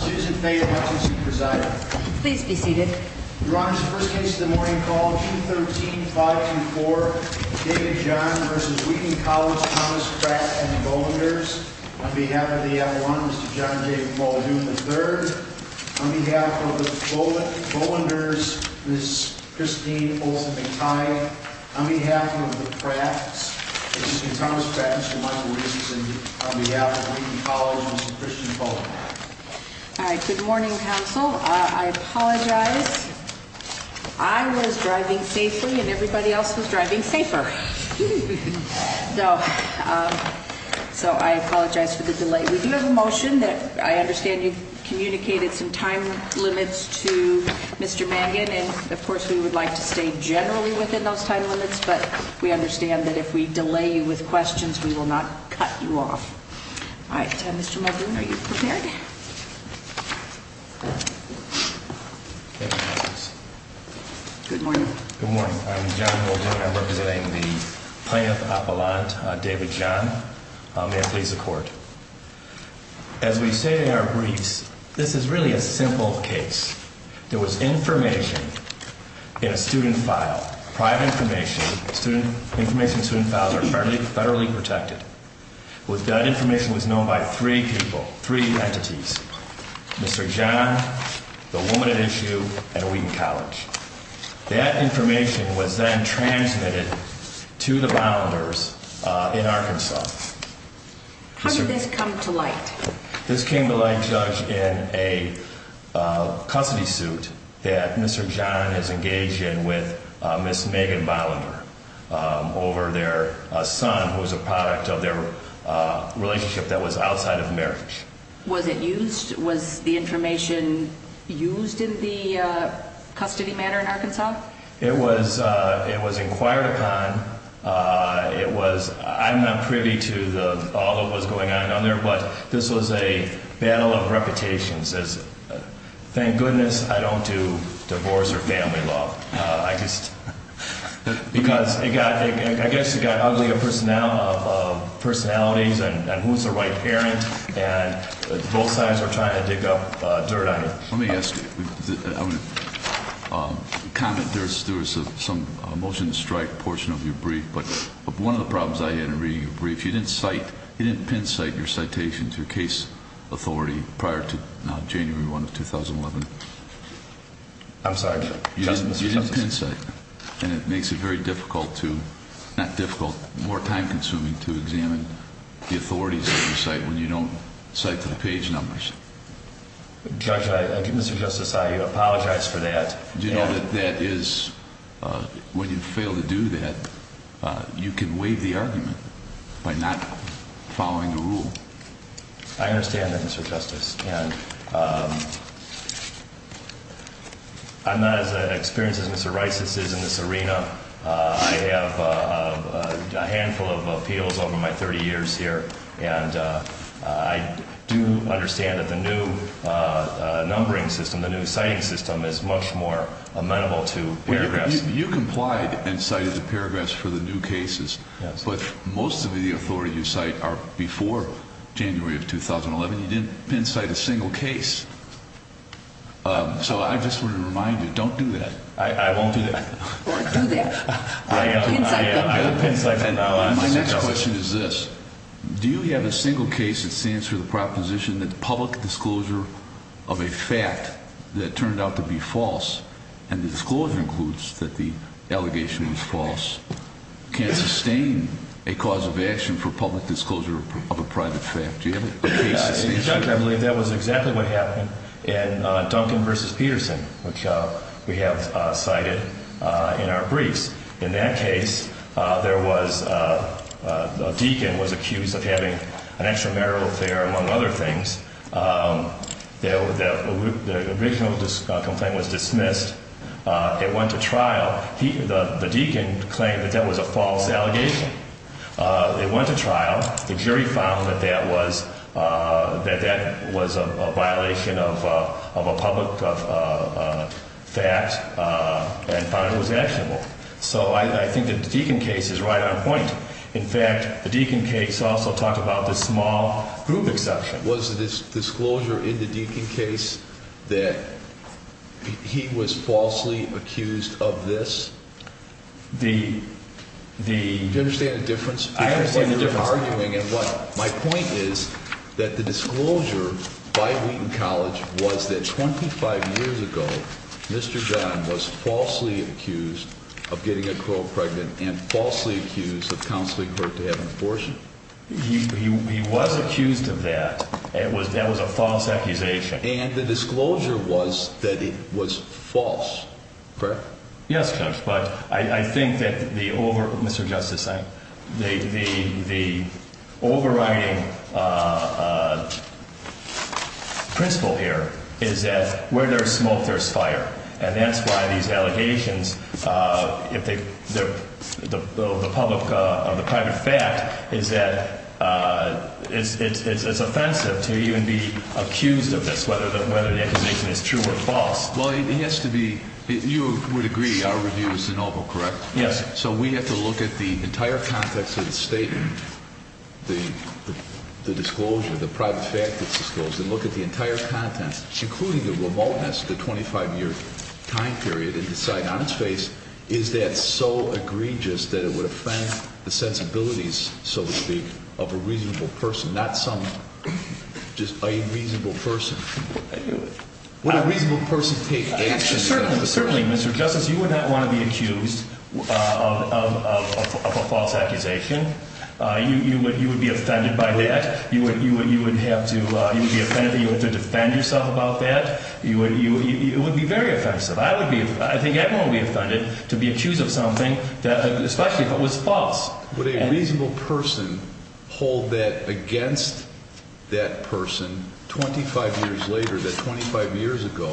Susan Fay Hutchinson presiding. Please be seated. Your Honor, this is the first case of the morning called 213-524, David John v. Wheaton College, Thomas Pratt & Bohlingers, on behalf of the F1, Mr. John David Bohlinger III, on behalf of the Bohlingers, Ms. Christine Olsen-McTighe, on behalf of the Pratts, Mr. Thomas Pratt, Mr. Michael Reese, and on behalf of Wheaton College, Mr. Christian Bohlinger. Good morning, counsel. I apologize. I was driving safely and everybody else was driving safer. So I apologize for the delay. We do have a motion that I understand you communicated some time limits to Mr. Mangan, and of course we would like to stay generally within those time limits, but we understand that if we delay you with questions, we will not cut you off. All right, Mr. Mulgoon, are you prepared? Good morning. Good morning. I'm John Mulgoon. I'm representing the Plaintiff Appellant, David John. May it please the Court. As we say in our briefs, this is really a simple case. There was information in a student file, private information. Information in student files are federally protected. That information was known by three people, three entities, Mr. John, the woman at issue, and Wheaton College. That information was then transmitted to the Bohlingers in Arkansas. How did this come to light? This came to light, Judge, in a custody suit that Mr. John has engaged in with Ms. Megan Bohlinger over their son, who was a product of their relationship that was outside of marriage. Was it used? Was the information used in the custody matter in Arkansas? It was inquired upon. I'm not privy to all that was going on there, but this was a battle of reputations. Thank goodness I don't do divorce or family law. I guess it got ugly of personalities and who's the right parent, and both sides were trying to dig up dirt on you. Let me ask you, I'm going to comment, there was some motion to strike portion of your brief, but one of the problems I had in reading your brief, you didn't cite, you didn't pin-cite your citations, your case authority prior to January 1 of 2011. I'm sorry, Judge. You didn't pin-cite, and it makes it very difficult to, not difficult, more time-consuming to examine the authorities that you cite when you don't cite to the page numbers. Judge, I think Mr. Justice, I apologize for that. Do you know that that is, when you fail to do that, you can waive the argument by not following the rule. I understand that, Mr. Justice, and I'm not as experienced as Mr. Rice is in this arena. I have a handful of appeals over my 30 years here, and I do understand that the new numbering system, the new citing system is much more amenable to paragraphs. You complied and cited the paragraphs for the new cases, but most of the authority you cite are before January of 2011. You didn't pin-cite a single case, so I just want to remind you, don't do that. I won't do that. Don't do that. I'll pin-cite them. My next question is this. Do you have a single case that stands for the proposition that public disclosure of a fact that turned out to be false, and the disclosure includes that the allegation was false, can sustain a cause of action for public disclosure of a private fact? Do you have a case that states that? Judge, I believe that was exactly what happened in Duncan v. Peterson, which we have cited in our briefs. In that case, a deacon was accused of having an extramarital affair, among other things. The original complaint was dismissed. It went to trial. The deacon claimed that that was a false allegation. It went to trial. The jury found that that was a violation of a public fact and found it was actionable. So I think that the deacon case is right on point. In fact, the deacon case also talked about the small group exception. Was the disclosure in the deacon case that he was falsely accused of this? Do you understand the difference? I understand the difference. My point is that the disclosure by Wheaton College was that 25 years ago Mr. John was falsely accused of getting a girl pregnant and falsely accused of counseling her to have an abortion. He was accused of that. That was a false accusation. And the disclosure was that it was false, correct? Yes, Judge. But I think that the overriding principle here is that where there is smoke, there is fire. And that's why these allegations of the private fact is that it's offensive to even be accused of this, whether the accusation is true or false. Well, it has to be – you would agree our review is de novo, correct? Yes. So we have to look at the entire context of the statement, the disclosure, the private fact that's disclosed, and look at the entire content, including the remoteness, the 25-year time period, and decide on its face, is that so egregious that it would offend the sensibilities, so to speak, of a reasonable person, not some – just a reasonable person. Would a reasonable person take action? Certainly, Mr. Justice. You would not want to be accused of a false accusation. You would be offended by that. You would have to – you would be offended if you were to defend yourself about that. It would be very offensive. I would be – I think everyone would be offended to be accused of something that – especially if it was false. Would a reasonable person hold that against that person 25 years later, that 25 years ago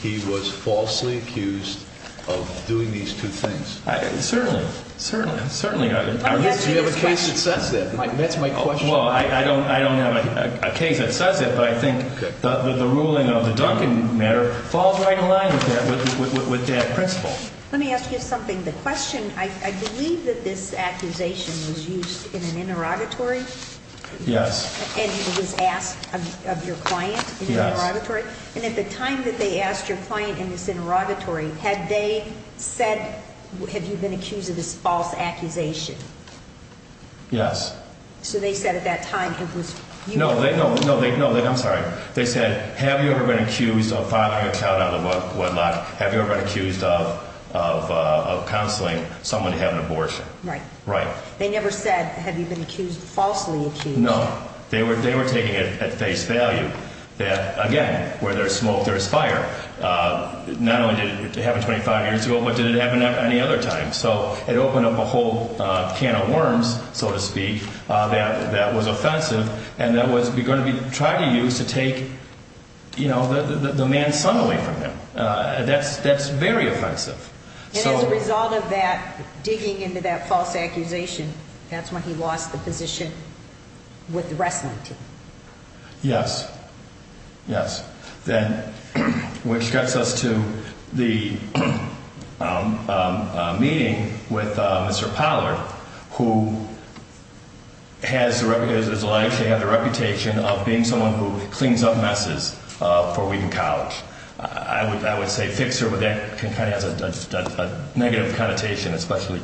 he was falsely accused of doing these two things? Certainly. Certainly. Certainly. Do you have a case that says that? That's my question. Well, I don't have a case that says that, but I think the ruling of the Duncan matter falls right in line with that principle. Let me ask you something. The question – I believe that this accusation was used in an interrogatory? Yes. And it was asked of your client in an interrogatory? Yes. And at the time that they asked your client in this interrogatory, had they said, have you been accused of this false accusation? Yes. So they said at that time it was – I'm sorry. They said, have you ever been accused of filing a child out of wedlock? Have you ever been accused of counseling someone to have an abortion? Right. Right. They never said, have you been falsely accused? No. They were taking it at face value that, again, where there's smoke, there's fire. Not only did it happen 25 years ago, but did it happen at any other time. So it opened up a whole can of worms, so to speak, that was offensive and that was going to be tried to use to take the man's son away from him. That's very offensive. And as a result of that, digging into that false accusation, that's when he lost the position with the wrestling team. Yes. Yes. Which gets us to the meeting with Mr. Pollard, who has the reputation of being someone who cleans up messes for Wheaton College. I would say fixer, but that kind of has a negative connotation, especially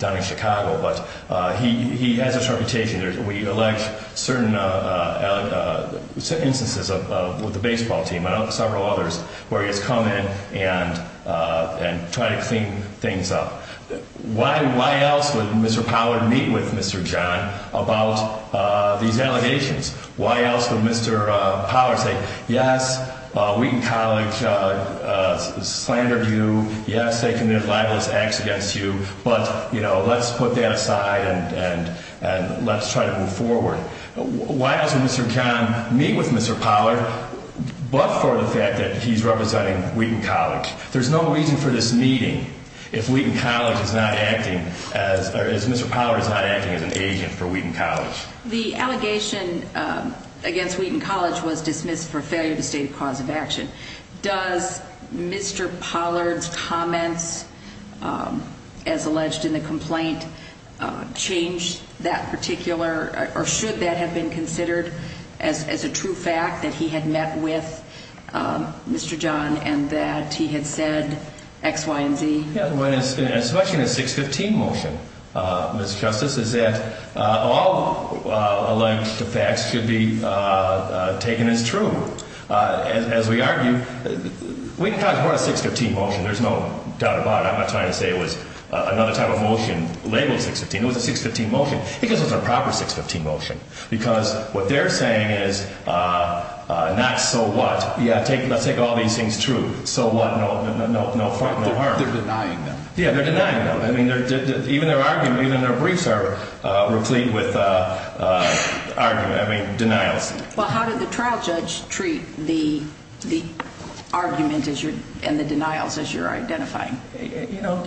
down in Chicago. But he has this reputation. We elect certain instances with the baseball team and several others where he has come in and tried to clean things up. Why else would Mr. Pollard meet with Mr. John about these allegations? Why else would Mr. Pollard say, yes, Wheaton College slandered you. Yes, they committed libelous acts against you. But let's put that aside and let's try to move forward. Why else would Mr. John meet with Mr. Pollard but for the fact that he's representing Wheaton College? There's no reason for this meeting if Wheaton College is not acting, or if Mr. Pollard is not acting as an agent for Wheaton College. The allegation against Wheaton College was dismissed for failure to state a cause of action. Does Mr. Pollard's comments, as alleged in the complaint, change that particular, or should that have been considered as a true fact that he had met with Mr. John and that he had said X, Y, and Z? Yeah, especially in a 615 motion, Mr. Justice, is that all alleged facts should be taken as true. As we argue, Wheaton College brought a 615 motion, there's no doubt about it. I'm not trying to say it was another type of motion labeled 615. It was a 615 motion. I think it was a proper 615 motion. Because what they're saying is not so what. Yeah, let's take all these things true. So what, no harm. They're denying them. Yeah, they're denying them. I mean, even their argument, even their briefs are replete with argument, I mean, denials. Well, how did the trial judge treat the argument and the denials as you're identifying? You know,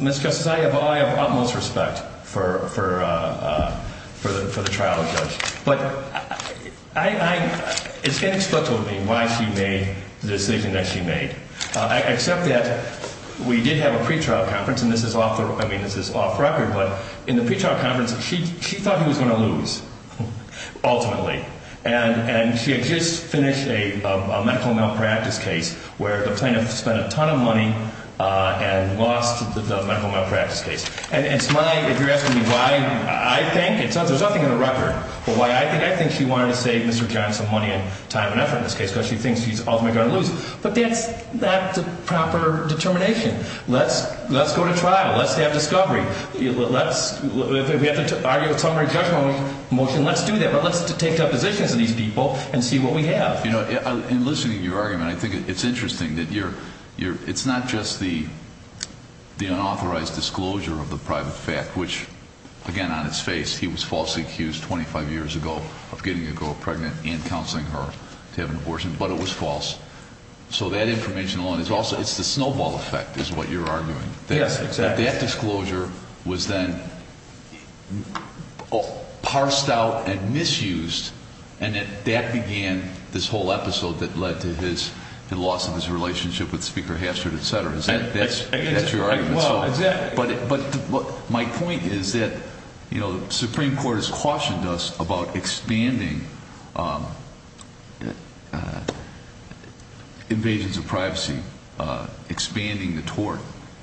Ms. Justice, I have utmost respect for the trial judge. But it's inexplicable to me why she made the decision that she made. Except that we did have a pretrial conference, and this is off the record, but in the pretrial conference, she thought he was going to lose, ultimately. And she had just finished a medical malpractice case where the plaintiff spent a ton of money and lost the medical malpractice case. And it's my, if you're asking me why, I think, there's nothing in the record, but why I think she wanted to save Mr. Johnson money and time and effort in this case because she thinks he's ultimately going to lose. But that's a proper determination. Let's go to trial. Let's have discovery. Let's, if we have to argue a summary judgment motion, let's do that. But let's take depositions of these people and see what we have. You know, in listening to your argument, I think it's interesting that you're, it's not just the unauthorized disclosure of the private fact, which, again, on its face, he was falsely accused 25 years ago of getting a girl pregnant and counseling her to have an abortion. But it was false. So that information alone is also, it's the snowball effect is what you're arguing. Yes, exactly. That disclosure was then parsed out and misused, and that began this whole episode that led to his loss of his relationship with Speaker Hastert, et cetera. That's your argument. But my point is that, you know, the Supreme Court has cautioned us about expanding invasions of privacy, expanding the tort.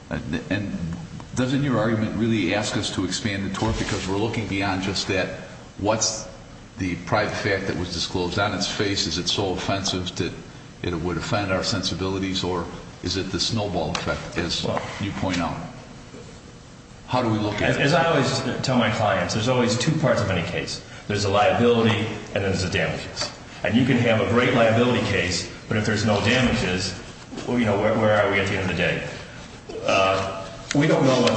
And doesn't your argument really ask us to expand the tort? Because we're looking beyond just that. What's the private fact that was disclosed on its face? Is it so offensive that it would offend our sensibilities? Or is it the snowball effect, as you point out? How do we look at it? As I always tell my clients, there's always two parts of any case. There's a liability and there's a damages. And you can have a great liability case, but if there's no damages, well, you know, where are we at the end of the day? We don't know what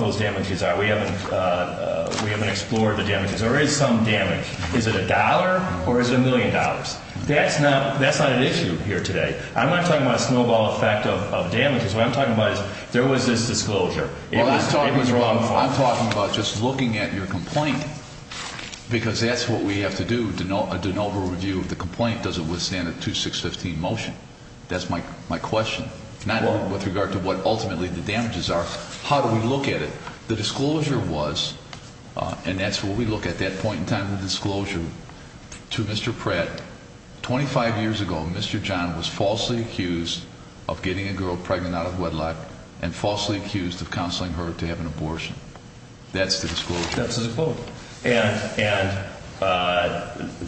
those damages are. We haven't explored the damages. There is some damage. Is it a dollar or is it a million dollars? That's not an issue here today. I'm not talking about a snowball effect of damages. What I'm talking about is there was this disclosure. It was wrongful. I'm talking about just looking at your complaint because that's what we have to do, a de novo review of the complaint. Does it withstand a 2-6-15 motion? That's my question, not with regard to what ultimately the damages are. How do we look at it? The disclosure was, and that's where we look at that point in time of the disclosure, to Mr. Pratt. 25 years ago, Mr. John was falsely accused of getting a girl pregnant out of wedlock and falsely accused of counseling her to have an abortion. That's the disclosure. That's the disclosure. And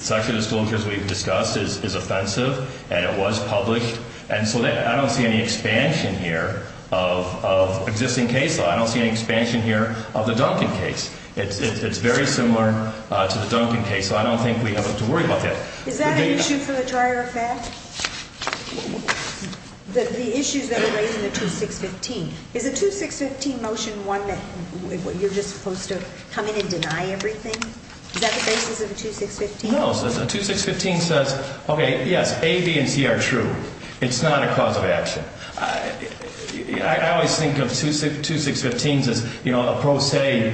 such a disclosure, as we've discussed, is offensive and it was published. And so I don't see any expansion here of existing case law. I don't see any expansion here of the Duncan case. It's very similar to the Duncan case, so I don't think we have to worry about that. Is that an issue for the dryer effect? The issues that were raised in the 2-6-15. Is a 2-6-15 motion one that you're just supposed to come in and deny everything? Is that the basis of a 2-6-15? No. A 2-6-15 says, okay, yes, A, B, and C are true. It's not a cause of action. I always think of 2-6-15s as a pro se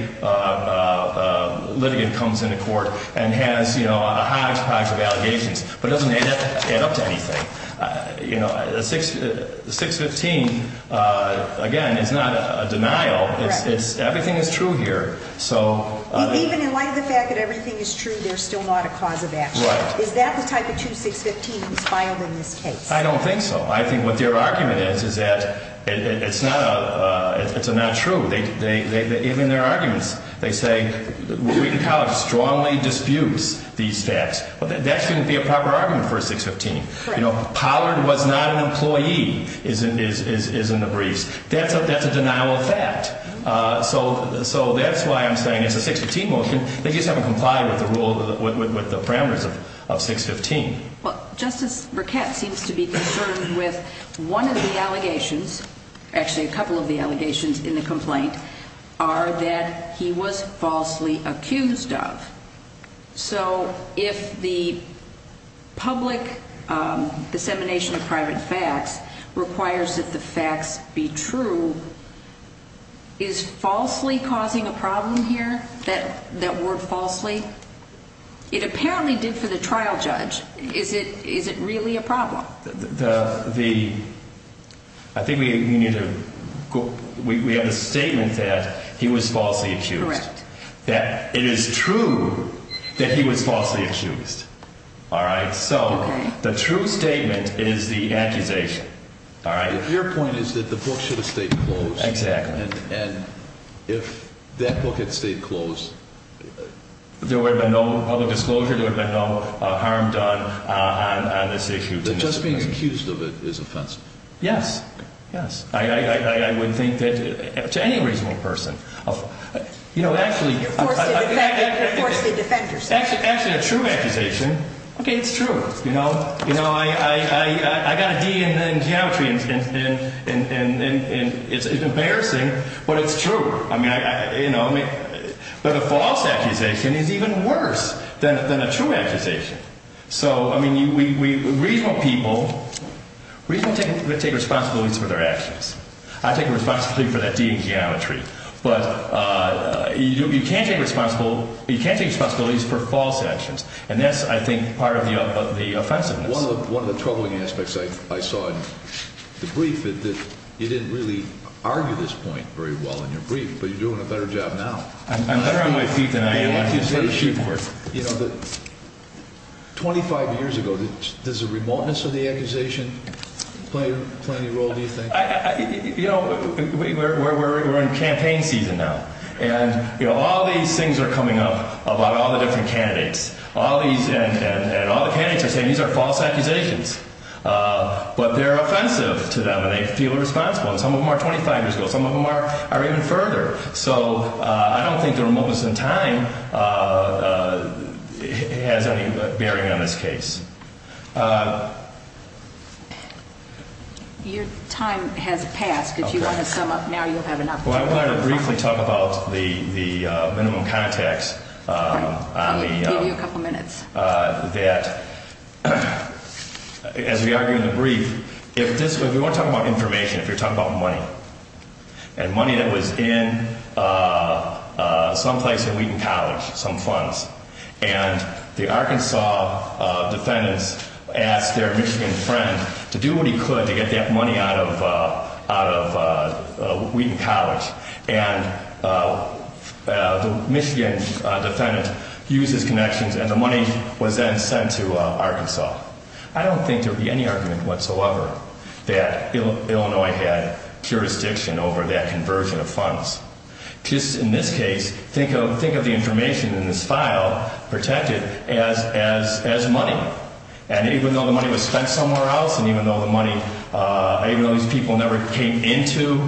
litigant comes into court and has a hodgepodge of allegations but doesn't add up to anything. A 6-15, again, is not a denial. Everything is true here. Even in light of the fact that everything is true, there's still not a cause of action. Is that the type of 2-6-15 that's filed in this case? I don't think so. I think what their argument is is that it's a not true. Even their arguments, they say Wheaton College strongly disputes these facts. That shouldn't be a proper argument for a 6-15. Pollard was not an employee is in the briefs. That's a denial of fact. So that's why I'm saying it's a 6-15 motion. They just haven't complied with the rule, with the parameters of 6-15. Well, Justice Burkett seems to be concerned with one of the allegations, actually a couple of the allegations in the complaint, are that he was falsely accused of. So if the public dissemination of private facts requires that the facts be true, is falsely causing a problem here, that word falsely? It apparently did for the trial judge. Is it really a problem? I think we have a statement that he was falsely accused. Correct. That it is true that he was falsely accused. All right? So the true statement is the accusation. All right? Your point is that the book should have stayed closed. Exactly. And if that book had stayed closed, there would have been no public disclosure, there would have been no harm done on this issue. Just being accused of it is offensive. Yes. Yes. I would think that to any reasonable person. You're forced to defend yourself. Actually, a true accusation, okay, it's true. You know, I got a D in geometry and it's embarrassing, but it's true. I mean, you know, but a false accusation is even worse than a true accusation. So, I mean, reasonable people, reasonable people take responsibilities for their actions. I take responsibility for that D in geometry. But you can't take responsibility for false actions. And that's, I think, part of the offensiveness. One of the troubling aspects I saw in the brief is that you didn't really argue this point very well in your brief, but you're doing a better job now. I'm better on my feet than I am on this issue. You know, 25 years ago, does the remoteness of the accusation play any role, do you think? You know, we're in campaign season now. And, you know, all these things are coming up about all the different candidates. And all the candidates are saying these are false accusations. But they're offensive to them and they feel responsible. And some of them are 25 years ago. Some of them are even further. So, I don't think the remoteness in time has any bearing on this case. Your time has passed. If you want to sum up now, you'll have enough time. Well, I wanted to briefly talk about the minimum contacts. I'll give you a couple minutes. That, as we argue in the brief, if this was, we want to talk about information, if you're talking about money. And money that was in some place in Wheaton College, some funds. And the Arkansas defendants asked their Michigan friend to do what he could to get that money out of Wheaton College. And the Michigan defendant used his connections and the money was then sent to Arkansas. I don't think there would be any argument whatsoever that Illinois had jurisdiction over that conversion of funds. Just in this case, think of the information in this file, protected, as money. And even though the money was spent somewhere else, and even though these people never came into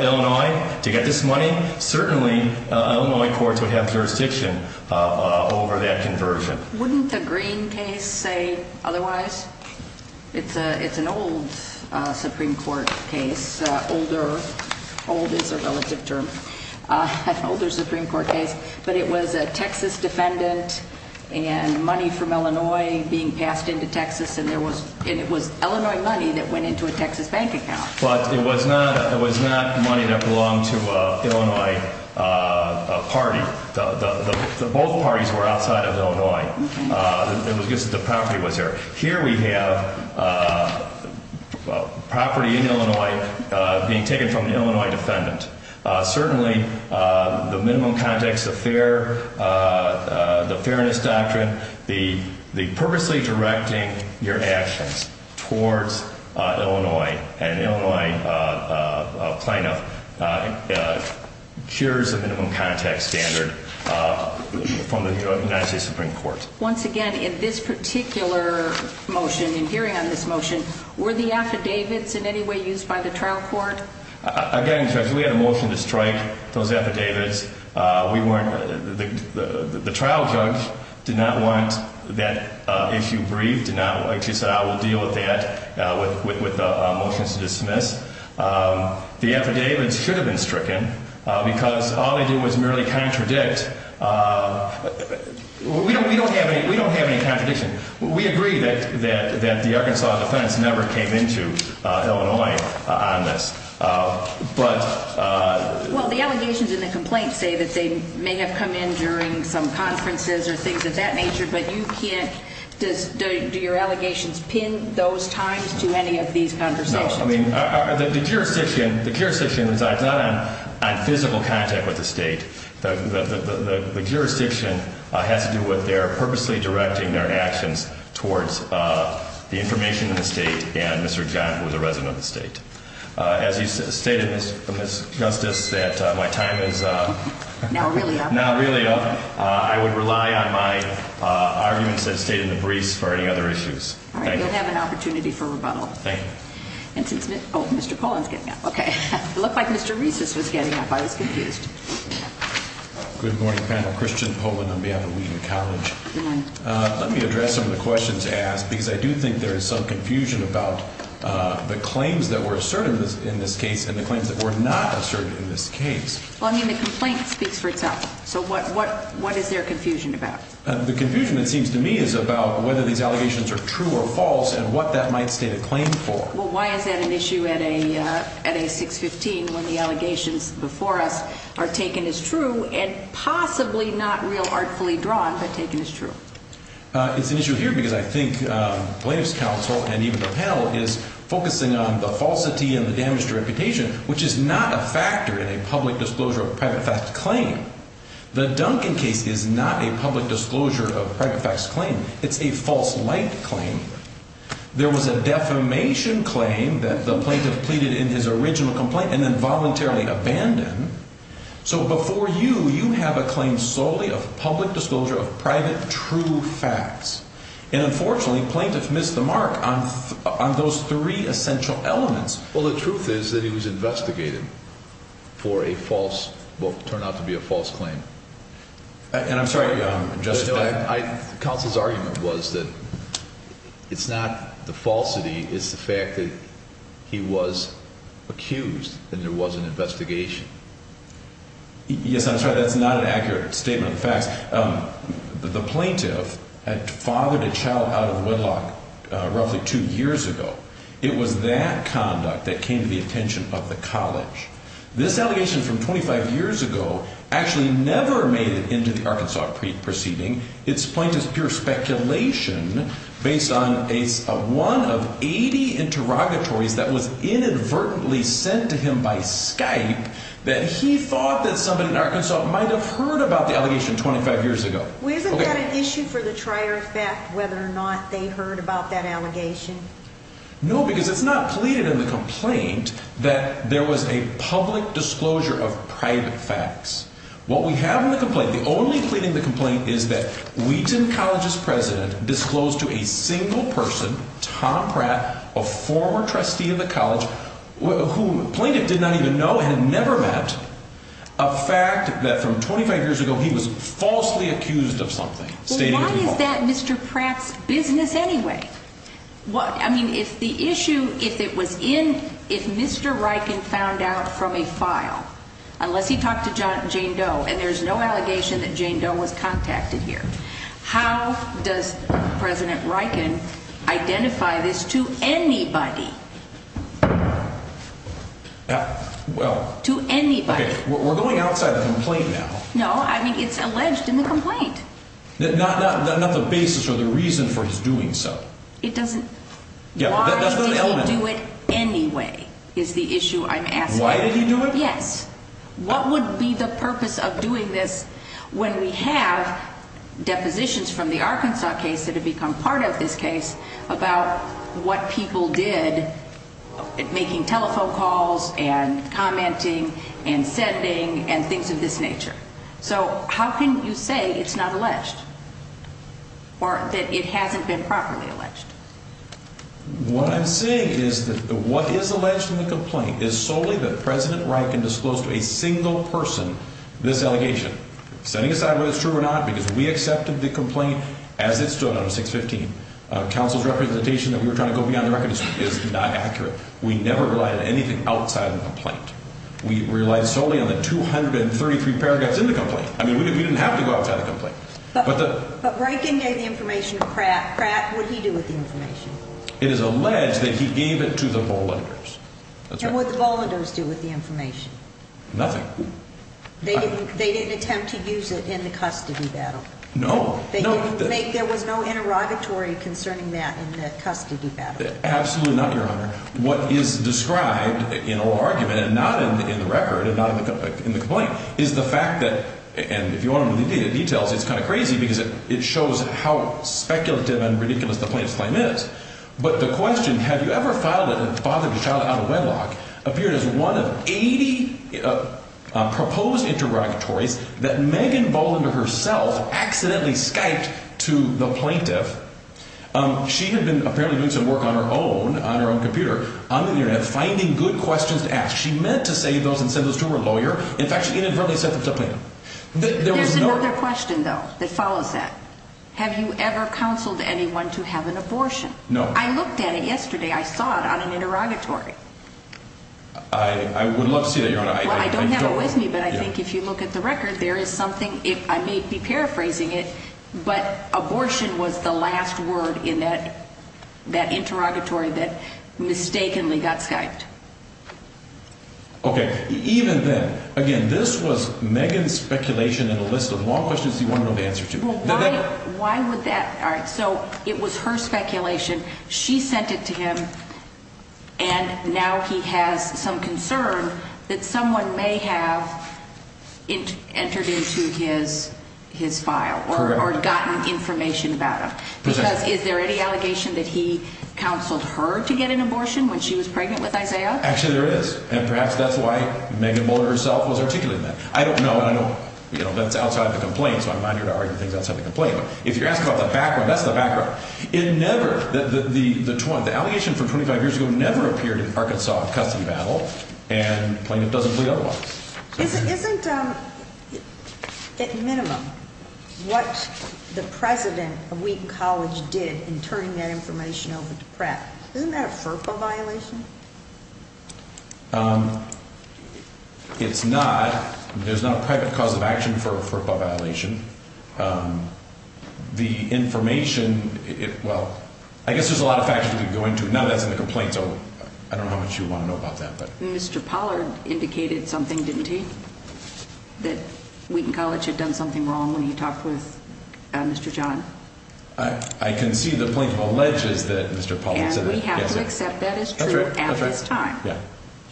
Illinois to get this money, certainly Illinois courts would have jurisdiction over that conversion. Wouldn't the Green case say otherwise? It's an old Supreme Court case. Old is a relative term. An older Supreme Court case. But it was a Texas defendant and money from Illinois being passed into Texas. And it was Illinois money that went into a Texas bank account. But it was not money that belonged to an Illinois party. Both parties were outside of Illinois. The property was there. Here we have property in Illinois being taken from an Illinois defendant. Certainly the minimum context, the fairness doctrine, the purposely directing your actions towards Illinois, and Illinois plaintiff, shares the minimum context standard from the United States Supreme Court. Once again, in this particular motion, in hearing on this motion, were the affidavits in any way used by the trial court? Again, Judge, we had a motion to strike those affidavits. The trial judge did not want that issue briefed. She said, I will deal with that with the motions to dismiss. The affidavits should have been stricken because all they did was merely contradict. We don't have any contradiction. We agree that the Arkansas defense never came into Illinois on this. Well, the allegations in the complaint say that they may have come in during some conferences or things of that nature, but do your allegations pin those times to any of these conversations? The jurisdiction resides not on physical contact with the state. The jurisdiction has to do with their purposely directing their actions towards the information in the state and Mr. John, who is a resident of the state. As you stated, Ms. Justice, that my time is now really up. I would rely on my arguments that stayed in the briefs for any other issues. All right. You'll have an opportunity for rebuttal. Thank you. Oh, Mr. Pollan's getting up. Okay. It looked like Mr. Reese's was getting up. I was confused. Good morning, panel. Christian Pollan on behalf of Wiener College. Good morning. Let me address some of the questions asked because I do think there is some confusion about the claims that were asserted in this case and the claims that were not asserted in this case. Well, I mean, the complaint speaks for itself. So what is there confusion about? The confusion, it seems to me, is about whether these allegations are true or false and what that might state a claim for. Well, why is that an issue at a 615 when the allegations before us are taken as true and possibly not real artfully drawn but taken as true? It's an issue here because I think plaintiff's counsel and even the panel is focusing on the falsity and the damage to reputation, which is not a factor in a public disclosure of a private fact claim. The Duncan case is not a public disclosure of private facts claim. It's a false light claim. There was a defamation claim that the plaintiff pleaded in his original complaint and then voluntarily abandoned. So before you, you have a claim solely of public disclosure of private true facts. And unfortunately, plaintiff missed the mark on those three essential elements. Well, the truth is that he was investigated for a false book, turned out to be a false claim. And I'm sorry. I counsel's argument was that it's not the falsity. It's the fact that he was accused and there was an investigation. Yes, I'm sorry. That's not an accurate statement of facts. The plaintiff had fathered a child out of wedlock roughly two years ago. It was that conduct that came to the attention of the college. This allegation from 25 years ago actually never made it into the Arkansas proceeding. It's plaintiff's pure speculation based on one of 80 interrogatories that was inadvertently sent to him by Skype that he thought that somebody in Arkansas might have heard about the allegation 25 years ago. Well, isn't that an issue for the trier of fact whether or not they heard about that allegation? No, because it's not pleaded in the complaint that there was a public disclosure of private facts. What we have in the complaint, the only plea in the complaint is that Wheaton College's president disclosed to a single person, Tom Pratt, a former trustee of the college, who plaintiff did not even know and had never met, a fact that from 25 years ago he was falsely accused of something. Well, why is that Mr. Pratt's business anyway? I mean, if the issue, if it was in, if Mr. Reichen found out from a file, unless he talked to Jane Doe and there's no allegation that Jane Doe was contacted here, how does President Reichen identify this to anybody? Well, to anybody. We're going outside the complaint now. No, I mean, it's alleged in the complaint. Not the basis or the reason for his doing so. It doesn't, why did he do it anyway is the issue I'm asking. Why did he do it? What would be the purpose of doing this when we have depositions from the Arkansas case that have become part of this case about what people did, making telephone calls and commenting and sending and things of this nature? So how can you say it's not alleged? Or that it hasn't been properly alleged? What I'm saying is that what is alleged in the complaint is solely that President Reichen disclosed to a single person this allegation. Setting aside whether it's true or not, because we accepted the complaint as it stood on 615. Counsel's representation that we were trying to go beyond the record is not accurate. We never relied on anything outside the complaint. We relied solely on the 233 paragraphs in the complaint. I mean, we didn't have to go outside the complaint. But Reichen gave the information to Pratt. Pratt, what did he do with the information? It is alleged that he gave it to the Bollenders. And what did the Bollenders do with the information? Nothing. They didn't attempt to use it in the custody battle? No. There was no interrogatory concerning that in the custody battle? Absolutely not, Your Honor. What is described in a law argument and not in the record and not in the complaint is the fact that, and if you want to know the details, it's kind of crazy because it shows how speculative and ridiculous the plaintiff's claim is. But the question, have you ever filed a father to child out of wedlock, appeared as one of 80 proposed interrogatories that Megan Bollender herself accidentally Skyped to the plaintiff. She had been apparently doing some work on her own, on her own computer, on the Internet, finding good questions to ask. She meant to say those and send those to her lawyer. In fact, she inadvertently sent them to the plaintiff. There's another question, though, that follows that. Have you ever counseled anyone to have an abortion? No. I looked at it yesterday. I would love to see that, Your Honor. I don't have it with me, but I think if you look at the record, there is something. I may be paraphrasing it, but abortion was the last word in that interrogatory that mistakenly got Skyped. Okay. Even then, again, this was Megan's speculation in a list of long questions she wanted an answer to. Why would that? All right. So it was her speculation. She sent it to him, and now he has some concern that someone may have entered into his file or gotten information about him. Because is there any allegation that he counseled her to get an abortion when she was pregnant with Isaiah? Actually, there is, and perhaps that's why Megan Bollender herself was articulating that. I don't know. I know that's outside the complaint, so I'm not here to argue things outside the complaint. But if you're asking about the background, that's the background. The allegation from 25 years ago never appeared in the Arkansas custody battle, and the plaintiff doesn't believe otherwise. Isn't, at minimum, what the president of Wheaton College did in turning that information over to Pratt, isn't that a FERPA violation? It's not. There's not a private cause of action for a FERPA violation. The information, well, I guess there's a lot of factors we could go into. Now that's in the complaint, so I don't know how much you want to know about that. Mr. Pollard indicated something, didn't he, that Wheaton College had done something wrong when he talked with Mr. John? I can see the plaintiff alleges that Mr. Pollard said that. And we have to accept that as true at this time. That's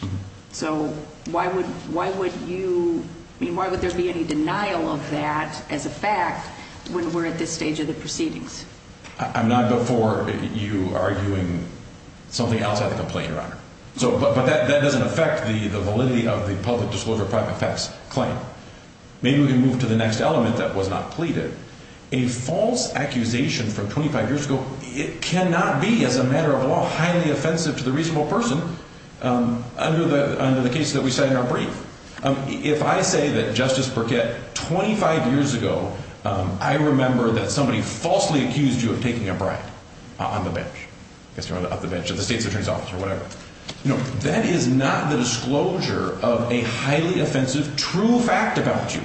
right. So why would you, I mean, why would there be any denial of that as a fact when we're at this stage of the proceedings? I'm not before you arguing something outside the complaint, Your Honor. But that doesn't affect the validity of the public disclosure of private facts claim. Maybe we can move to the next element that was not pleaded. A false accusation from 25 years ago, it cannot be, as a matter of law, highly offensive to the reasonable person under the case that we cite in our brief. If I say that, Justice Burkett, 25 years ago, I remember that somebody falsely accused you of taking a bribe on the bench. I guess you want to up the bench at the state's attorney's office or whatever. No, that is not the disclosure of a highly offensive true fact about you.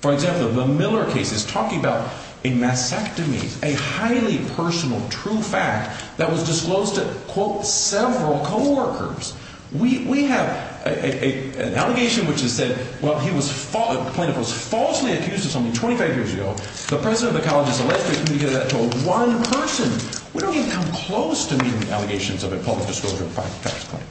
For example, the Miller case is talking about a mastectomy, a highly personal true fact that was disclosed to, quote, several co-workers. We have an allegation which has said, well, he was, the plaintiff was falsely accused of something 25 years ago. The president of the college has allegedly communicated that to one person. We don't even come close to making allegations of a public disclosure of private facts claim.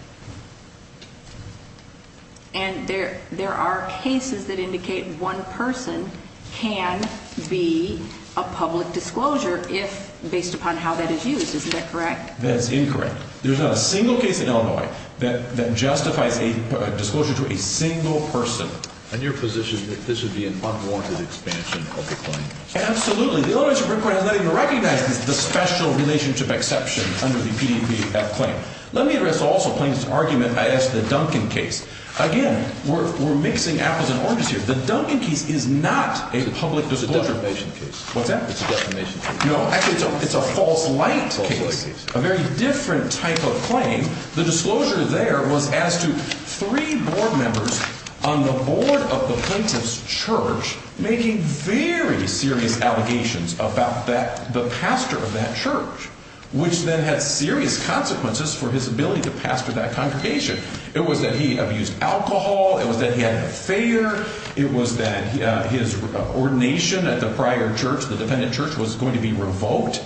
And there are cases that indicate one person can be a public disclosure if, based upon how that is used. Isn't that correct? That's incorrect. There's not a single case in Illinois that justifies a disclosure to a single person. And your position is that this would be an unwarranted expansion of the claim? Absolutely. The Illinois Supreme Court has not even recognized the special relationship exception under the PDPF claim. Let me address also plaintiff's argument as the Duncan case. Again, we're mixing apples and oranges here. The Duncan case is not a public disclosure. It's a defamation case. What's that? It's a defamation case. No, actually, it's a false light case, a very different type of claim. The disclosure there was as to three board members on the board of the plaintiff's church making very serious allegations about the pastor of that church. Which then had serious consequences for his ability to pastor that congregation. It was that he abused alcohol. It was that he had an affair. It was that his ordination at the prior church, the dependent church, was going to be revoked.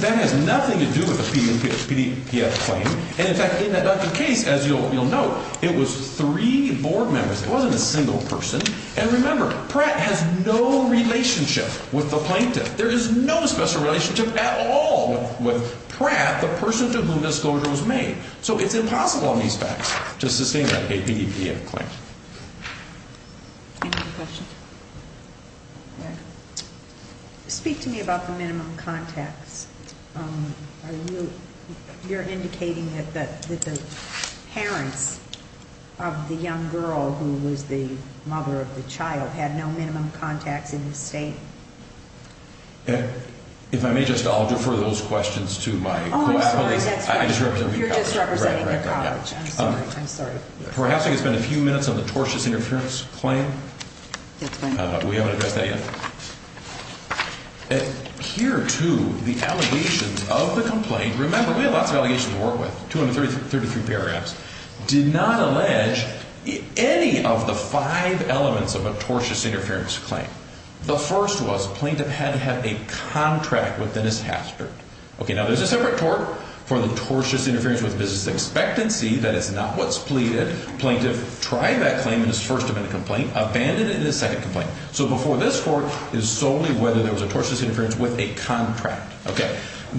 That has nothing to do with the PDPF claim. And, in fact, in that Duncan case, as you'll note, it was three board members. It wasn't a single person. And remember, Pratt has no relationship with the plaintiff. There is no special relationship at all with Pratt, the person to whom the disclosure was made. So it's impossible on these facts to sustain a PDPF claim. Any other questions? Speak to me about the minimum contacts. You're indicating that the parents of the young girl who was the mother of the child had no minimum contacts in the state? If I may just, I'll defer those questions to my co-applicants. You're just representing the college. I'm sorry. Perhaps we could spend a few minutes on the tortious interference claim. That's fine. We haven't addressed that yet. Here, too, the allegations of the complaint. Remember, we have lots of allegations to work with, 233 paragraphs. Did not allege any of the five elements of a tortious interference claim. The first was plaintiff had to have a contract with Dennis Hastert. Okay, now there's a separate tort for the tortious interference with business expectancy. That is not what's pleaded. Plaintiff tried that claim in his first amendment complaint, abandoned it in his second complaint. So before this court is solely whether there was a tortious interference with a contract.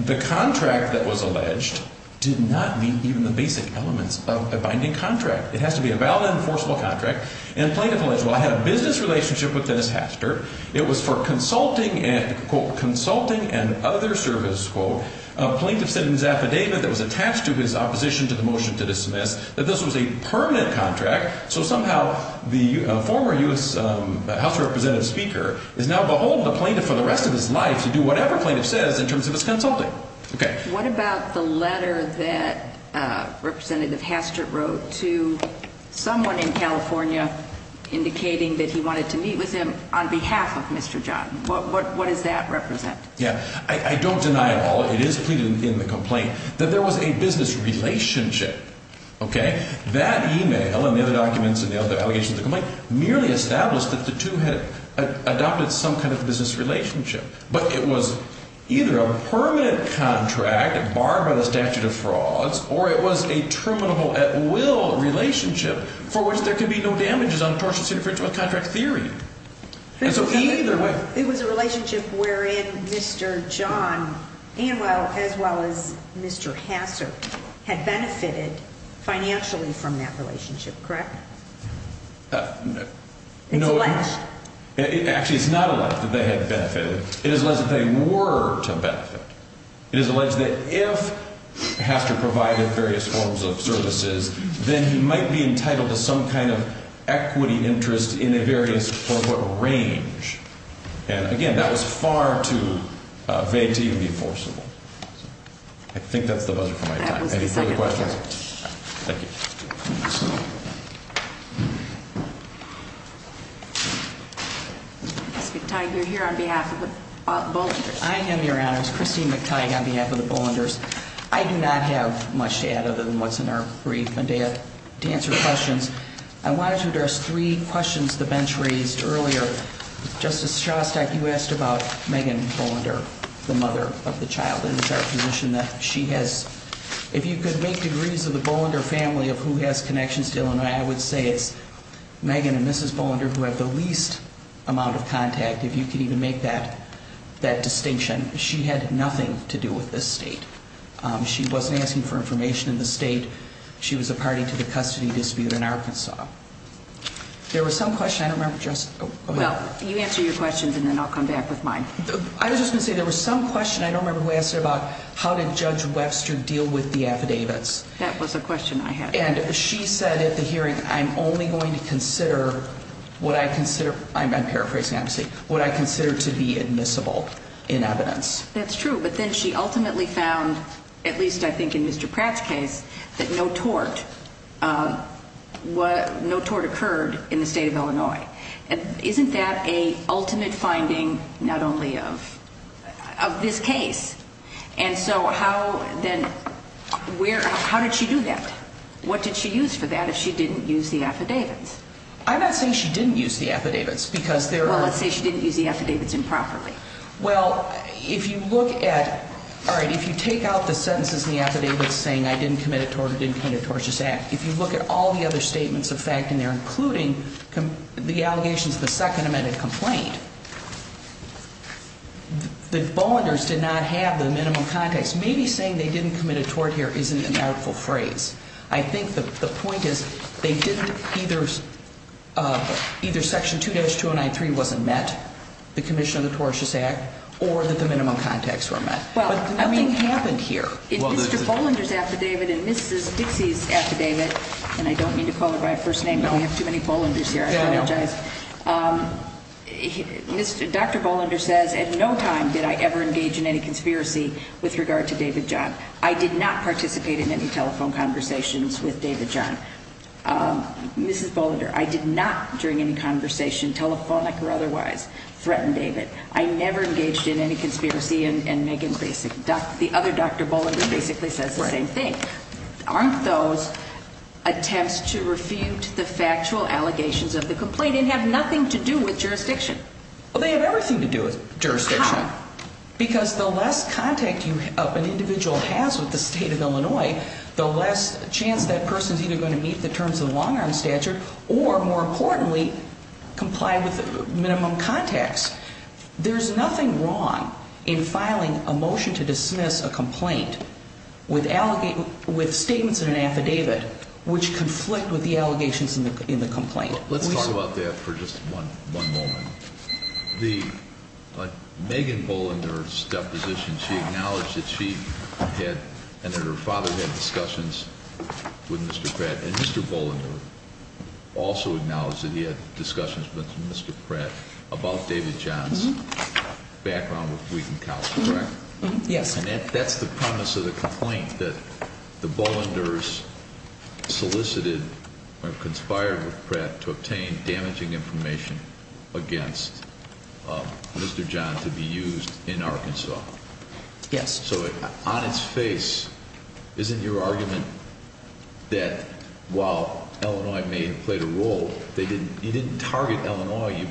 The contract that was alleged did not meet even the basic elements of a binding contract. It has to be a valid, enforceable contract. And plaintiff alleged, well, I had a business relationship with Dennis Hastert. It was for consulting and, quote, consulting and other service, quote. Plaintiff said in his affidavit that was attached to his opposition to the motion to dismiss that this was a permanent contract. So somehow the former U.S. House of Representatives speaker is now beholden to plaintiff for the rest of his life to do whatever plaintiff says in terms of his consulting. What about the letter that Representative Hastert wrote to someone in California indicating that he wanted to meet with him on behalf of Mr. John? What does that represent? Yeah, I don't deny all. It is pleaded in the complaint that there was a business relationship. Okay. That e-mail and the other documents and the other allegations of the complaint merely established that the two had adopted some kind of business relationship. But it was either a permanent contract barred by the statute of frauds or it was a terminable at will relationship for which there could be no damages on tortious interference with contract theory. And so either way. It was a relationship wherein Mr. John Anwell as well as Mr. Hastert had benefited financially from that relationship, correct? No. It's alleged. Actually, it's not alleged that they had benefited. It is alleged that they were to benefit. It is alleged that if Hastert provided various forms of services, then he might be entitled to some kind of equity interest in a various range. And again, that was far too vague to even be forcible. I think that's the budget for my time. Any further questions? Thank you. Mr. McTighe, you're here on behalf of the Bollingers. I am, Your Honors. Christine McTighe on behalf of the Bollingers. I do not have much to add other than what's in our brief. And to answer questions, I wanted to address three questions the bench raised earlier. Justice Shostak, you asked about Megan Bollinger, the mother of the child. And it's our position that she has, if you could make degrees of the Bollinger family of who has connections to Illinois, I would say it's Megan and Mrs. Bollinger who have the least amount of contact, if you could even make that distinction. She had nothing to do with this state. She wasn't asking for information in the state. She was a party to the custody dispute in Arkansas. There was some question. I don't remember, Justice. Well, you answer your questions, and then I'll come back with mine. I was just going to say there was some question, I don't remember who asked it, about how did Judge Webster deal with the affidavits. That was a question I had. And she said at the hearing, I'm only going to consider what I consider, I'm paraphrasing, obviously, what I consider to be admissible in evidence. That's true. But then she ultimately found, at least I think in Mr. Pratt's case, that no tort occurred in the state of Illinois. Isn't that a ultimate finding not only of this case? And so how then, where, how did she do that? What did she use for that if she didn't use the affidavits? I'm not saying she didn't use the affidavits because there are. Well, let's say she didn't use the affidavits improperly. Well, if you look at, all right, if you take out the sentences in the affidavits saying I didn't commit a tort or didn't commit a tortious act, if you look at all the other statements of fact in there, including the allegations of the second amended complaint, that Bolanders did not have the minimum context, maybe saying they didn't commit a tort here isn't an artful phrase. I think the point is they didn't either, either section 2-2093 wasn't met, the commission of the tortious act, or that the minimum context were met. But nothing happened here. In Mr. Bolander's affidavit and Mrs. Dixie's affidavit, and I don't mean to call her by her first name. No. We have too many Bolanders here. I apologize. No, no. Dr. Bolander says at no time did I ever engage in any conspiracy with regard to David John. I did not participate in any telephone conversations with David John. Mrs. Bolander, I did not during any conversation, telephonic or otherwise, threaten David. I never engaged in any conspiracy and Megan Grasick. The other Dr. Bolander basically says the same thing. Aren't those attempts to refute the factual allegations of the complaint and have nothing to do with jurisdiction? Well, they have everything to do with jurisdiction. How? Because the less contact an individual has with the state of Illinois, the less chance that person is either going to meet the terms of the long-arm statute or, more importantly, comply with minimum context. There's nothing wrong in filing a motion to dismiss a complaint with statements in an affidavit which conflict with the allegations in the complaint. Let's talk about that for just one moment. Megan Bolander's deposition, she acknowledged that she and her father had discussions with Mr. Pratt, and Mr. Bolander also acknowledged that he had discussions with Mr. Pratt about David John's background with Wheaton College, correct? Yes. And that's the premise of the complaint, that the Bolanders solicited or conspired with Pratt to obtain damaging information against Mr. John to be used in Arkansas. Yes. So on its face, isn't your argument that while Illinois may have played a role, you didn't target Illinois.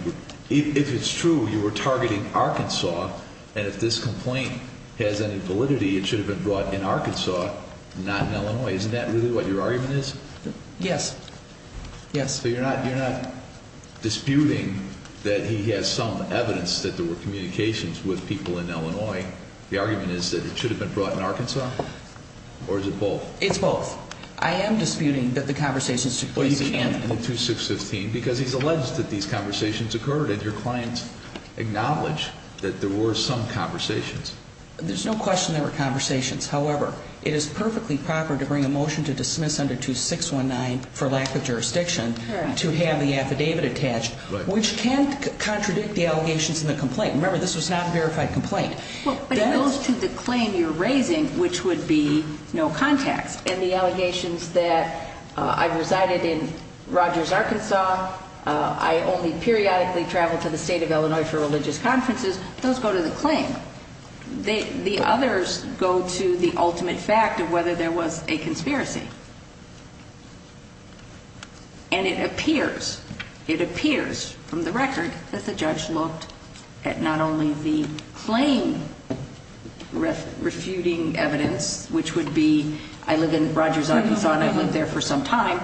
If it's true you were targeting Arkansas, and if this complaint has any validity, it should have been brought in Arkansas, not in Illinois. Isn't that really what your argument is? Yes. Yes. So you're not disputing that he has some evidence that there were communications with people in Illinois. The argument is that it should have been brought in Arkansas? Or is it both? It's both. I am disputing that the conversations took place in Anthony. Because he's alleged that these conversations occurred, and your clients acknowledge that there were some conversations. There's no question there were conversations. However, it is perfectly proper to bring a motion to dismiss under 2619 for lack of jurisdiction to have the affidavit attached, which can't contradict the allegations in the complaint. Remember, this was not a verified complaint. But it goes to the claim you're raising, which would be no context. And the allegations that I've resided in Rogers, Arkansas, I only periodically travel to the state of Illinois for religious conferences, those go to the claim. The others go to the ultimate fact of whether there was a conspiracy. And it appears, it appears from the record that the judge looked at not only the claim refuting evidence, which would be I live in Rogers, Arkansas, and I've lived there for some time,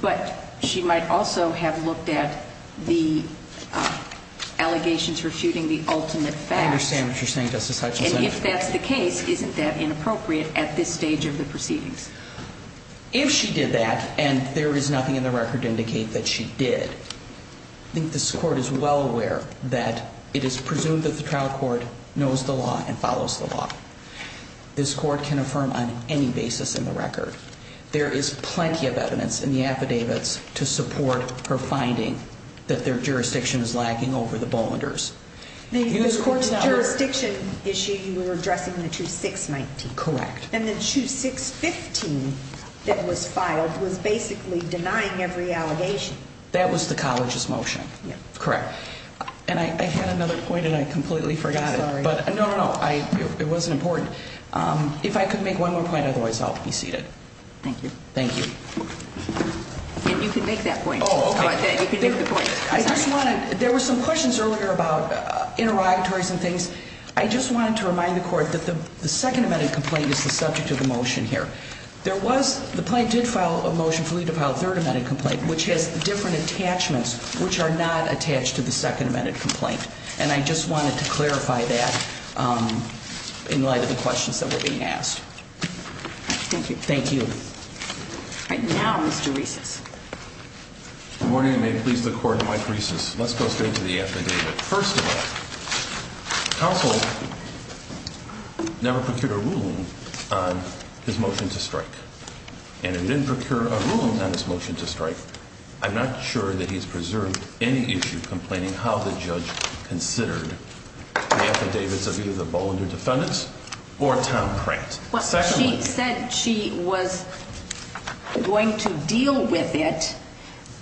but she might also have looked at the allegations refuting the ultimate fact. I understand what you're saying, Justice Hutchinson. And if that's the case, isn't that inappropriate at this stage of the proceedings? If she did that, and there is nothing in the record to indicate that she did, I think this court is well aware that it is presumed that the trial court knows the law and follows the law. This court can affirm on any basis in the record. There is plenty of evidence in the affidavits to support her finding that their jurisdiction is lacking over the Bollinger's. The jurisdiction issue you were addressing, the 2619. Correct. And the 2615 that was filed was basically denying every allegation. That was the college's motion. Correct. And I had another point and I completely forgot it. Sorry. No, no, no. It wasn't important. If I could make one more point, otherwise I'll be seated. Thank you. Thank you. And you can make that point. Oh, okay. You can make the point. There were some questions earlier about interrogatories and things. I just wanted to remind the court that the second amended complaint is the subject of the motion here. There was, the plaintiff filed a motion for you to file a third amended complaint, which has different attachments, which are not attached to the second amended complaint. And I just wanted to clarify that in light of the questions that were being asked. Thank you. Thank you. All right. Now, Mr. Reese. Good morning and may it please the court, I'm Mike Reese. Let's go straight to the affidavit. First of all, counsel never procured a ruling on his motion to strike. And it didn't procure a ruling on his motion to strike. I'm not sure that he's preserved any issue complaining how the judge considered the affidavits of either the Bollinger defendants or Tom Pratt. She said she was going to deal with it,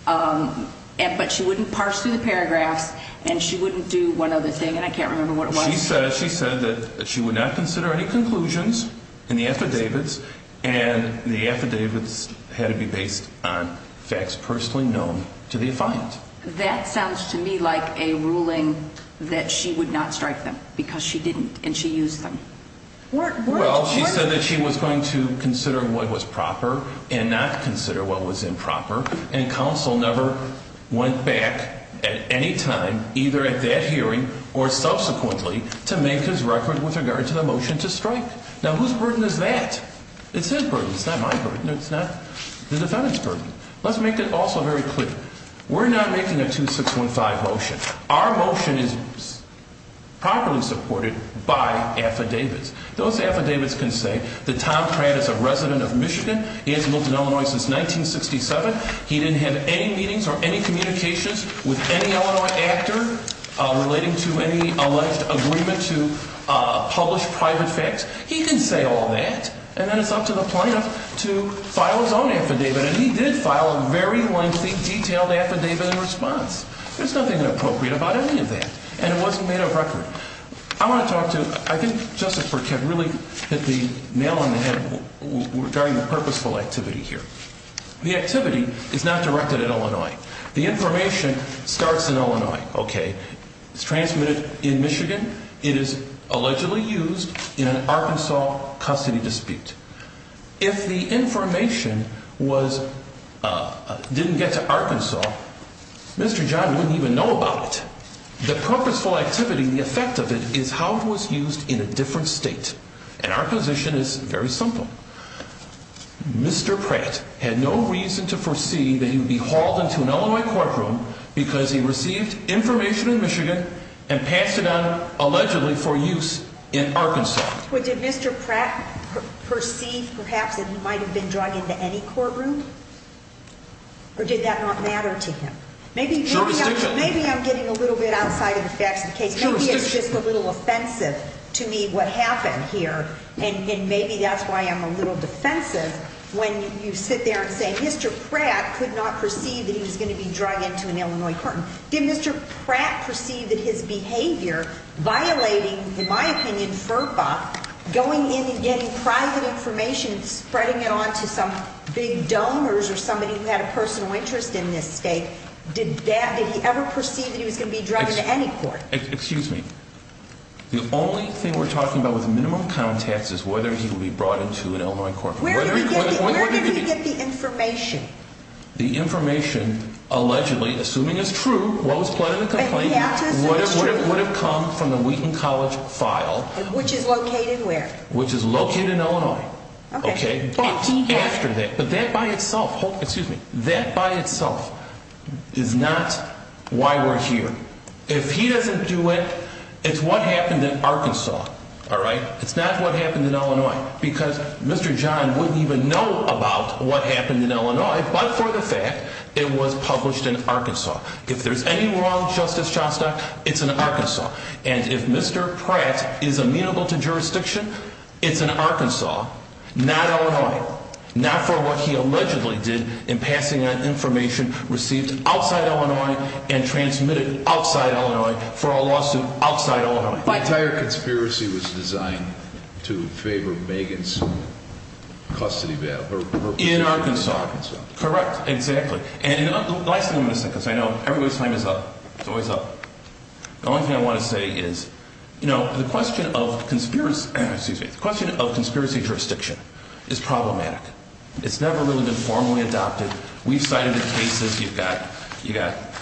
but she wouldn't parse through the paragraphs and she wouldn't do one other thing. And I can't remember what it was. She said that she would not consider any conclusions in the affidavits and the affidavits had to be based on facts personally known to the defiant. That sounds to me like a ruling that she would not strike them because she didn't and she used them. Well, she said that she was going to consider what was proper and not consider what was improper. And counsel never went back at any time, either at that hearing or subsequently, to make his record with regard to the motion to strike. Now, whose burden is that? It's his burden. It's not my burden. It's not the defendant's burden. Let's make it also very clear. We're not making a 2615 motion. Our motion is properly supported by affidavits. Those affidavits can say that Tom Pratt is a resident of Michigan. He has lived in Illinois since 1967. He didn't have any meetings or any communications with any Illinois actor relating to any alleged agreement to publish private facts. He can say all that and then it's up to the plaintiff to file his own affidavit. And he did file a very lengthy, detailed affidavit in response. There's nothing inappropriate about any of that. And it wasn't made of record. I want to talk to you. I think Justice Burkett really hit the nail on the head regarding the purposeful activity here. The activity is not directed at Illinois. The information starts in Illinois. Okay. It's transmitted in Michigan. It is allegedly used in an Arkansas custody dispute. If the information didn't get to Arkansas, Mr. John wouldn't even know about it. The purposeful activity, the effect of it, is how it was used in a different state. And our position is very simple. Mr. Pratt had no reason to foresee that he would be hauled into an Illinois courtroom because he received information in Michigan and passed it on allegedly for use in Arkansas. Well, did Mr. Pratt perceive perhaps that he might have been drug into any courtroom? Or did that not matter to him? Maybe I'm getting a little bit outside of the facts of the case. Maybe it's just a little offensive to me what happened here. And maybe that's why I'm a little defensive when you sit there and say Mr. Pratt could not perceive that he was going to be drug into an Illinois courtroom. Did Mr. Pratt perceive that his behavior, violating, in my opinion, FERPA, going in and getting private information and spreading it on to some big donors or somebody who had a personal interest in this state, did that, did he ever perceive that he was going to be drug into any court? Excuse me. The only thing we're talking about with minimum contacts is whether he will be brought into an Illinois courtroom. Where did he get the information? The information allegedly, assuming it's true, what was pled in the complaint, would have come from the Wheaton College file. Which is located where? Which is located in Illinois. Okay. But after that, but that by itself, excuse me, that by itself is not why we're here. If he doesn't do it, it's what happened in Arkansas, all right? It's not what happened in Illinois because Mr. John wouldn't even know about what happened in Illinois but for the fact it was published in Arkansas. If there's any wrong, Justice Shostak, it's in Arkansas. And if Mr. Pratt is amenable to jurisdiction, it's in Arkansas, not Illinois. Not for what he allegedly did in passing on information received outside Illinois and transmitted outside Illinois for a lawsuit outside Illinois. The entire conspiracy was designed to favor Megan's custody battle. In Arkansas. Correct. Exactly. And the last thing I'm going to say because I know everybody's time is up. It's always up. The only thing I want to say is, you know, the question of conspiracy, excuse me, the question of conspiracy jurisdiction is problematic. It's never really been formally adopted. We've cited the cases. You've got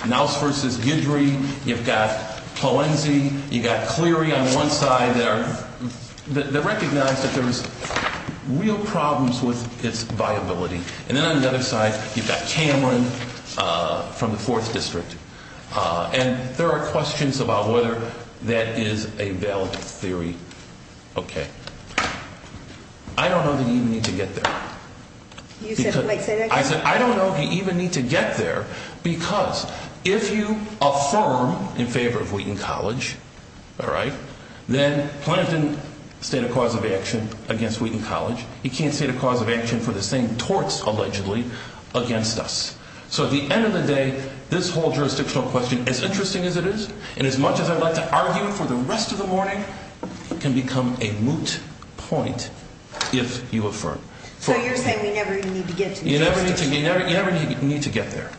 Knauss v. Guidry. You've got Clowenzie. You've got Cleary on one side that recognize that there's real problems with its viability. And then on the other side, you've got Cameron from the 4th District. And there are questions about whether that is a valid theory. Okay. I don't know that you need to get there. You said you might say that? I said I don't know if you even need to get there because if you affirm in favor of Wheaton College, all right, then Planned Parenthood stated a cause of action against Wheaton College. You can't state a cause of action for the same torts allegedly against us. So at the end of the day, this whole jurisdictional question, as interesting as it is and as much as I'd like to argue it for the rest of the morning, can become a moot point if you affirm. So you're saying we never even need to get to the Justice Department? You never need to get there.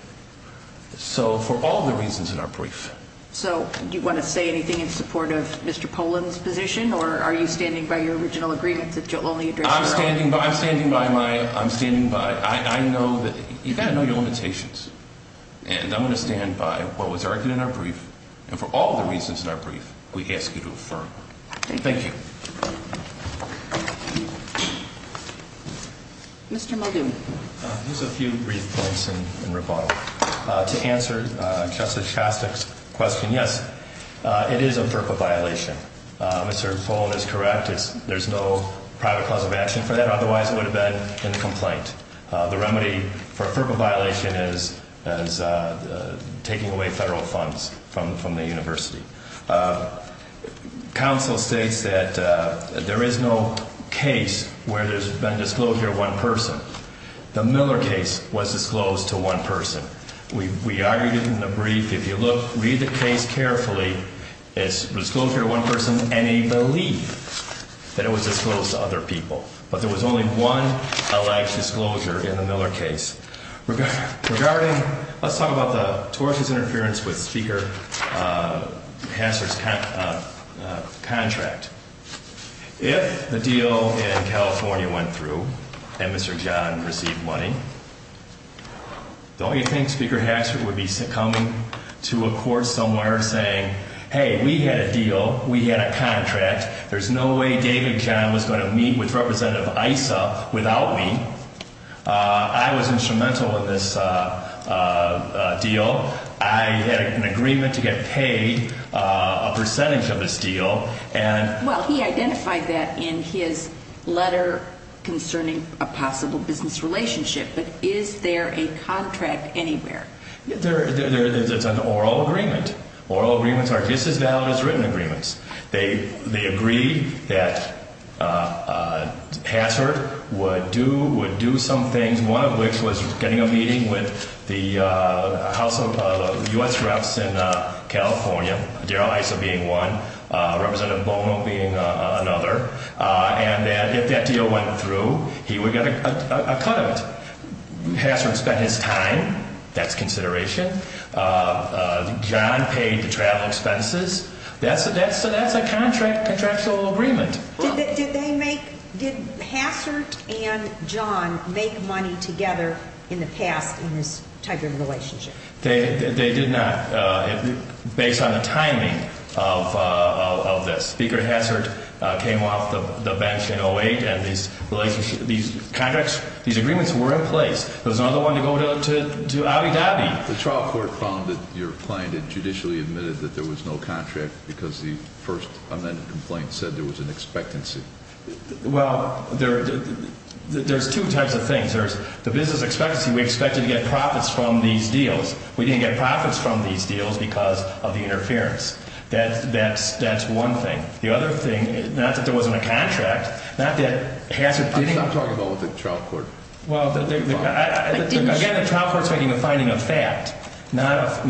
So for all the reasons in our brief. So do you want to say anything in support of Mr. Poland's position or are you standing by your original agreement that you'll only address your own? I'm standing by my – I'm standing by – I know that – you've got to know your limitations. And I'm going to stand by what was argued in our brief. And for all the reasons in our brief, we ask you to affirm. Thank you. Mr. Muldoon. Here's a few brief points in rebuttal. To answer Justice Shostak's question, yes, it is a FERPA violation. Mr. Poland is correct. There's no private cause of action for that. Otherwise, it would have been in the complaint. The remedy for a FERPA violation is taking away federal funds from the university. Counsel states that there is no case where there's been a disclosure of one person. The Miller case was disclosed to one person. We argued in the brief, if you look – read the case carefully, it's disclosure to one person and a belief that it was disclosed to other people. But there was only one alleged disclosure in the Miller case. Regarding – let's talk about the tortious interference with Speaker Hassert's contract. If the deal in California went through and Mr. John received money, don't you think Speaker Hassert would be succumbing to a court somewhere saying, hey, we had a deal, we had a contract, there's no way David John was going to meet with Representative Issa without me? I was instrumental in this deal. I had an agreement to get paid a percentage of this deal. Well, he identified that in his letter concerning a possible business relationship. But is there a contract anywhere? It's an oral agreement. Oral agreements are just as valid as written agreements. They agreed that Hassert would do some things, one of which was getting a meeting with the House of U.S. Reps in California, Darrell Issa being one, Representative Bono being another, and that if that deal went through, he would get a cut of it. Hassert spent his time. That's consideration. John paid the travel expenses. That's a contractual agreement. Did they make, did Hassert and John make money together in the past in this type of relationship? They did not. Based on the timing of this. Speaker Hassert came off the bench in 08 and these contracts, these agreements were in place. There was no other one to go to, to obby-dobby. The trial court found that your client had judicially admitted that there was no contract because the first amended complaint said there was an expectancy. Well, there's two types of things. There's the business expectancy. We expected to get profits from these deals. We didn't get profits from these deals because of the interference. That's one thing. The other thing, not that there wasn't a contract, not that Hassert- Stop talking about what the trial court- Again, the trial court's making a finding of fact, not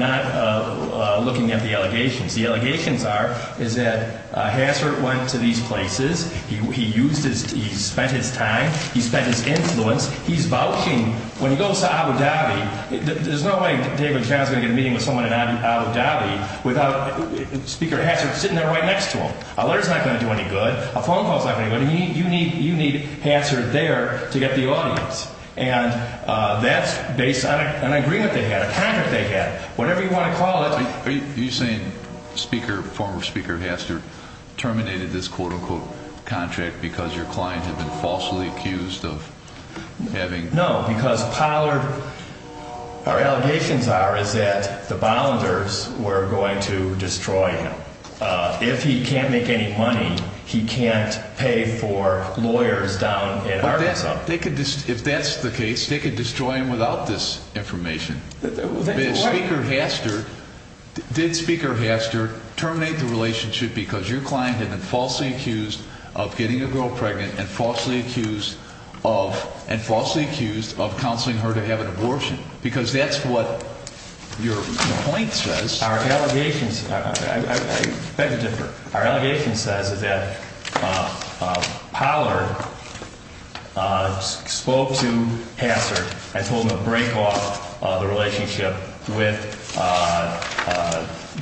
looking at the allegations. The allegations are, is that Hassert went to these places. He spent his time. He spent his influence. He's vouching. When he goes to obby-dobby, there's no way David Brown's going to get a meeting with someone in obby-dobby without Speaker Hassert sitting there right next to him. A letter's not going to do any good. A phone call's not going to do any good. You need Hassert there to get the audience, and that's based on an agreement they had, a contract they had, whatever you want to call it. Are you saying Speaker-former Speaker Hassert terminated this quote-unquote contract because your client had been falsely accused of having- No, because Pollard-our allegations are, is that the Bollingers were going to destroy him. If he can't make any money, he can't pay for lawyers down in Arkansas. If that's the case, they could destroy him without this information. Did Speaker Hassert terminate the relationship because your client had been falsely accused of getting a girl pregnant and falsely accused of counseling her to have an abortion? Because that's what your complaint says. Our allegations-I beg to differ. Our allegation says that Pollard spoke to Hassert and told him to break off the relationship with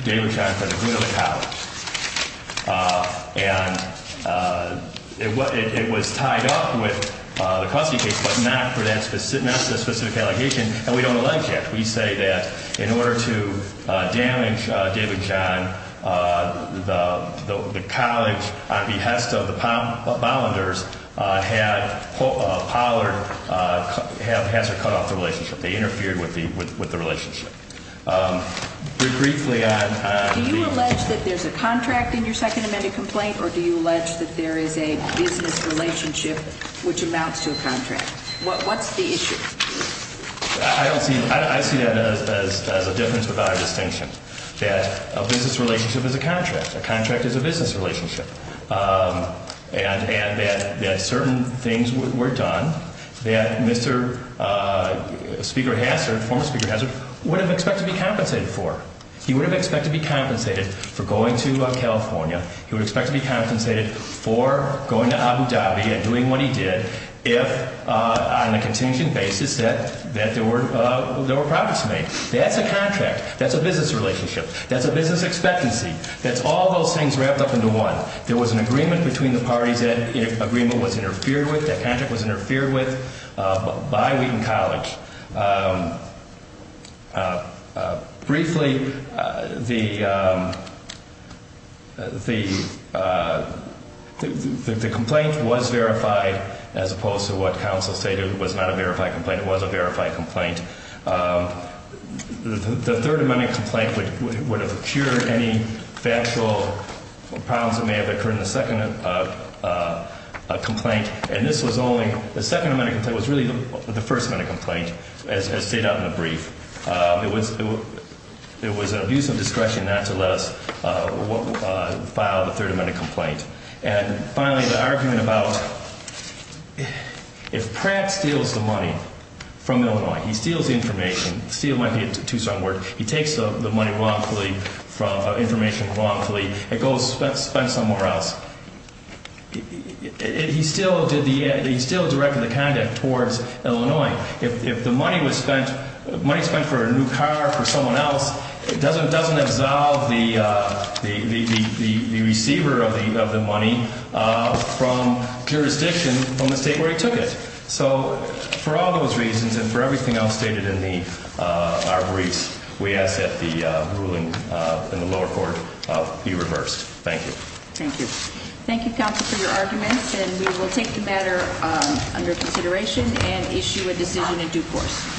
David Johnson, the dean of the college. And it was tied up with the custody case, but not for that specific allegation, and we don't allege that. We say that in order to damage David John, the college, on behest of the Bollingers, had Pollard-Hassert cut off the relationship. They interfered with the relationship. Briefly on- Do you allege that there's a contract in your second amended complaint, or do you allege that there is a business relationship which amounts to a contract? What's the issue? I don't see-I see that as a difference without a distinction, that a business relationship is a contract. A contract is a business relationship. And that certain things were done that Mr. Speaker Hassert, former Speaker Hassert, would have expected to be compensated for. He would have expected to be compensated for going to California. He would expect to be compensated for going to Abu Dhabi and doing what he did if, on a contingent basis, that there were progress made. That's a contract. That's a business relationship. That's a business expectancy. That's all those things wrapped up into one. There was an agreement between the parties that agreement was interfered with, that contract was interfered with, by Wheaton College. Briefly, the complaint was verified, as opposed to what counsel stated was not a verified complaint. It was a verified complaint. The third amended complaint would have cured any factual problems that may have occurred in the second complaint. And this was only-the second amended complaint was really the first amended complaint, as stated out in the brief. It was an abuse of discretion not to let us file the third amended complaint. And finally, the argument about if Pratt steals the money from Illinois, he steals the information-steal might be a too strong word-he takes the money wrongfully, information wrongfully, it goes spent somewhere else. He still did the-he still directed the conduct towards Illinois. If the money was spent-money spent for a new car, for someone else, it doesn't absolve the receiver of the money from jurisdiction from the state where he took it. So, for all those reasons, and for everything else stated in the briefs, we ask that the ruling in the lower court be reversed. Thank you. Thank you. Thank you, counsel, for your arguments, and we will take the matter under consideration and issue a decision in due course.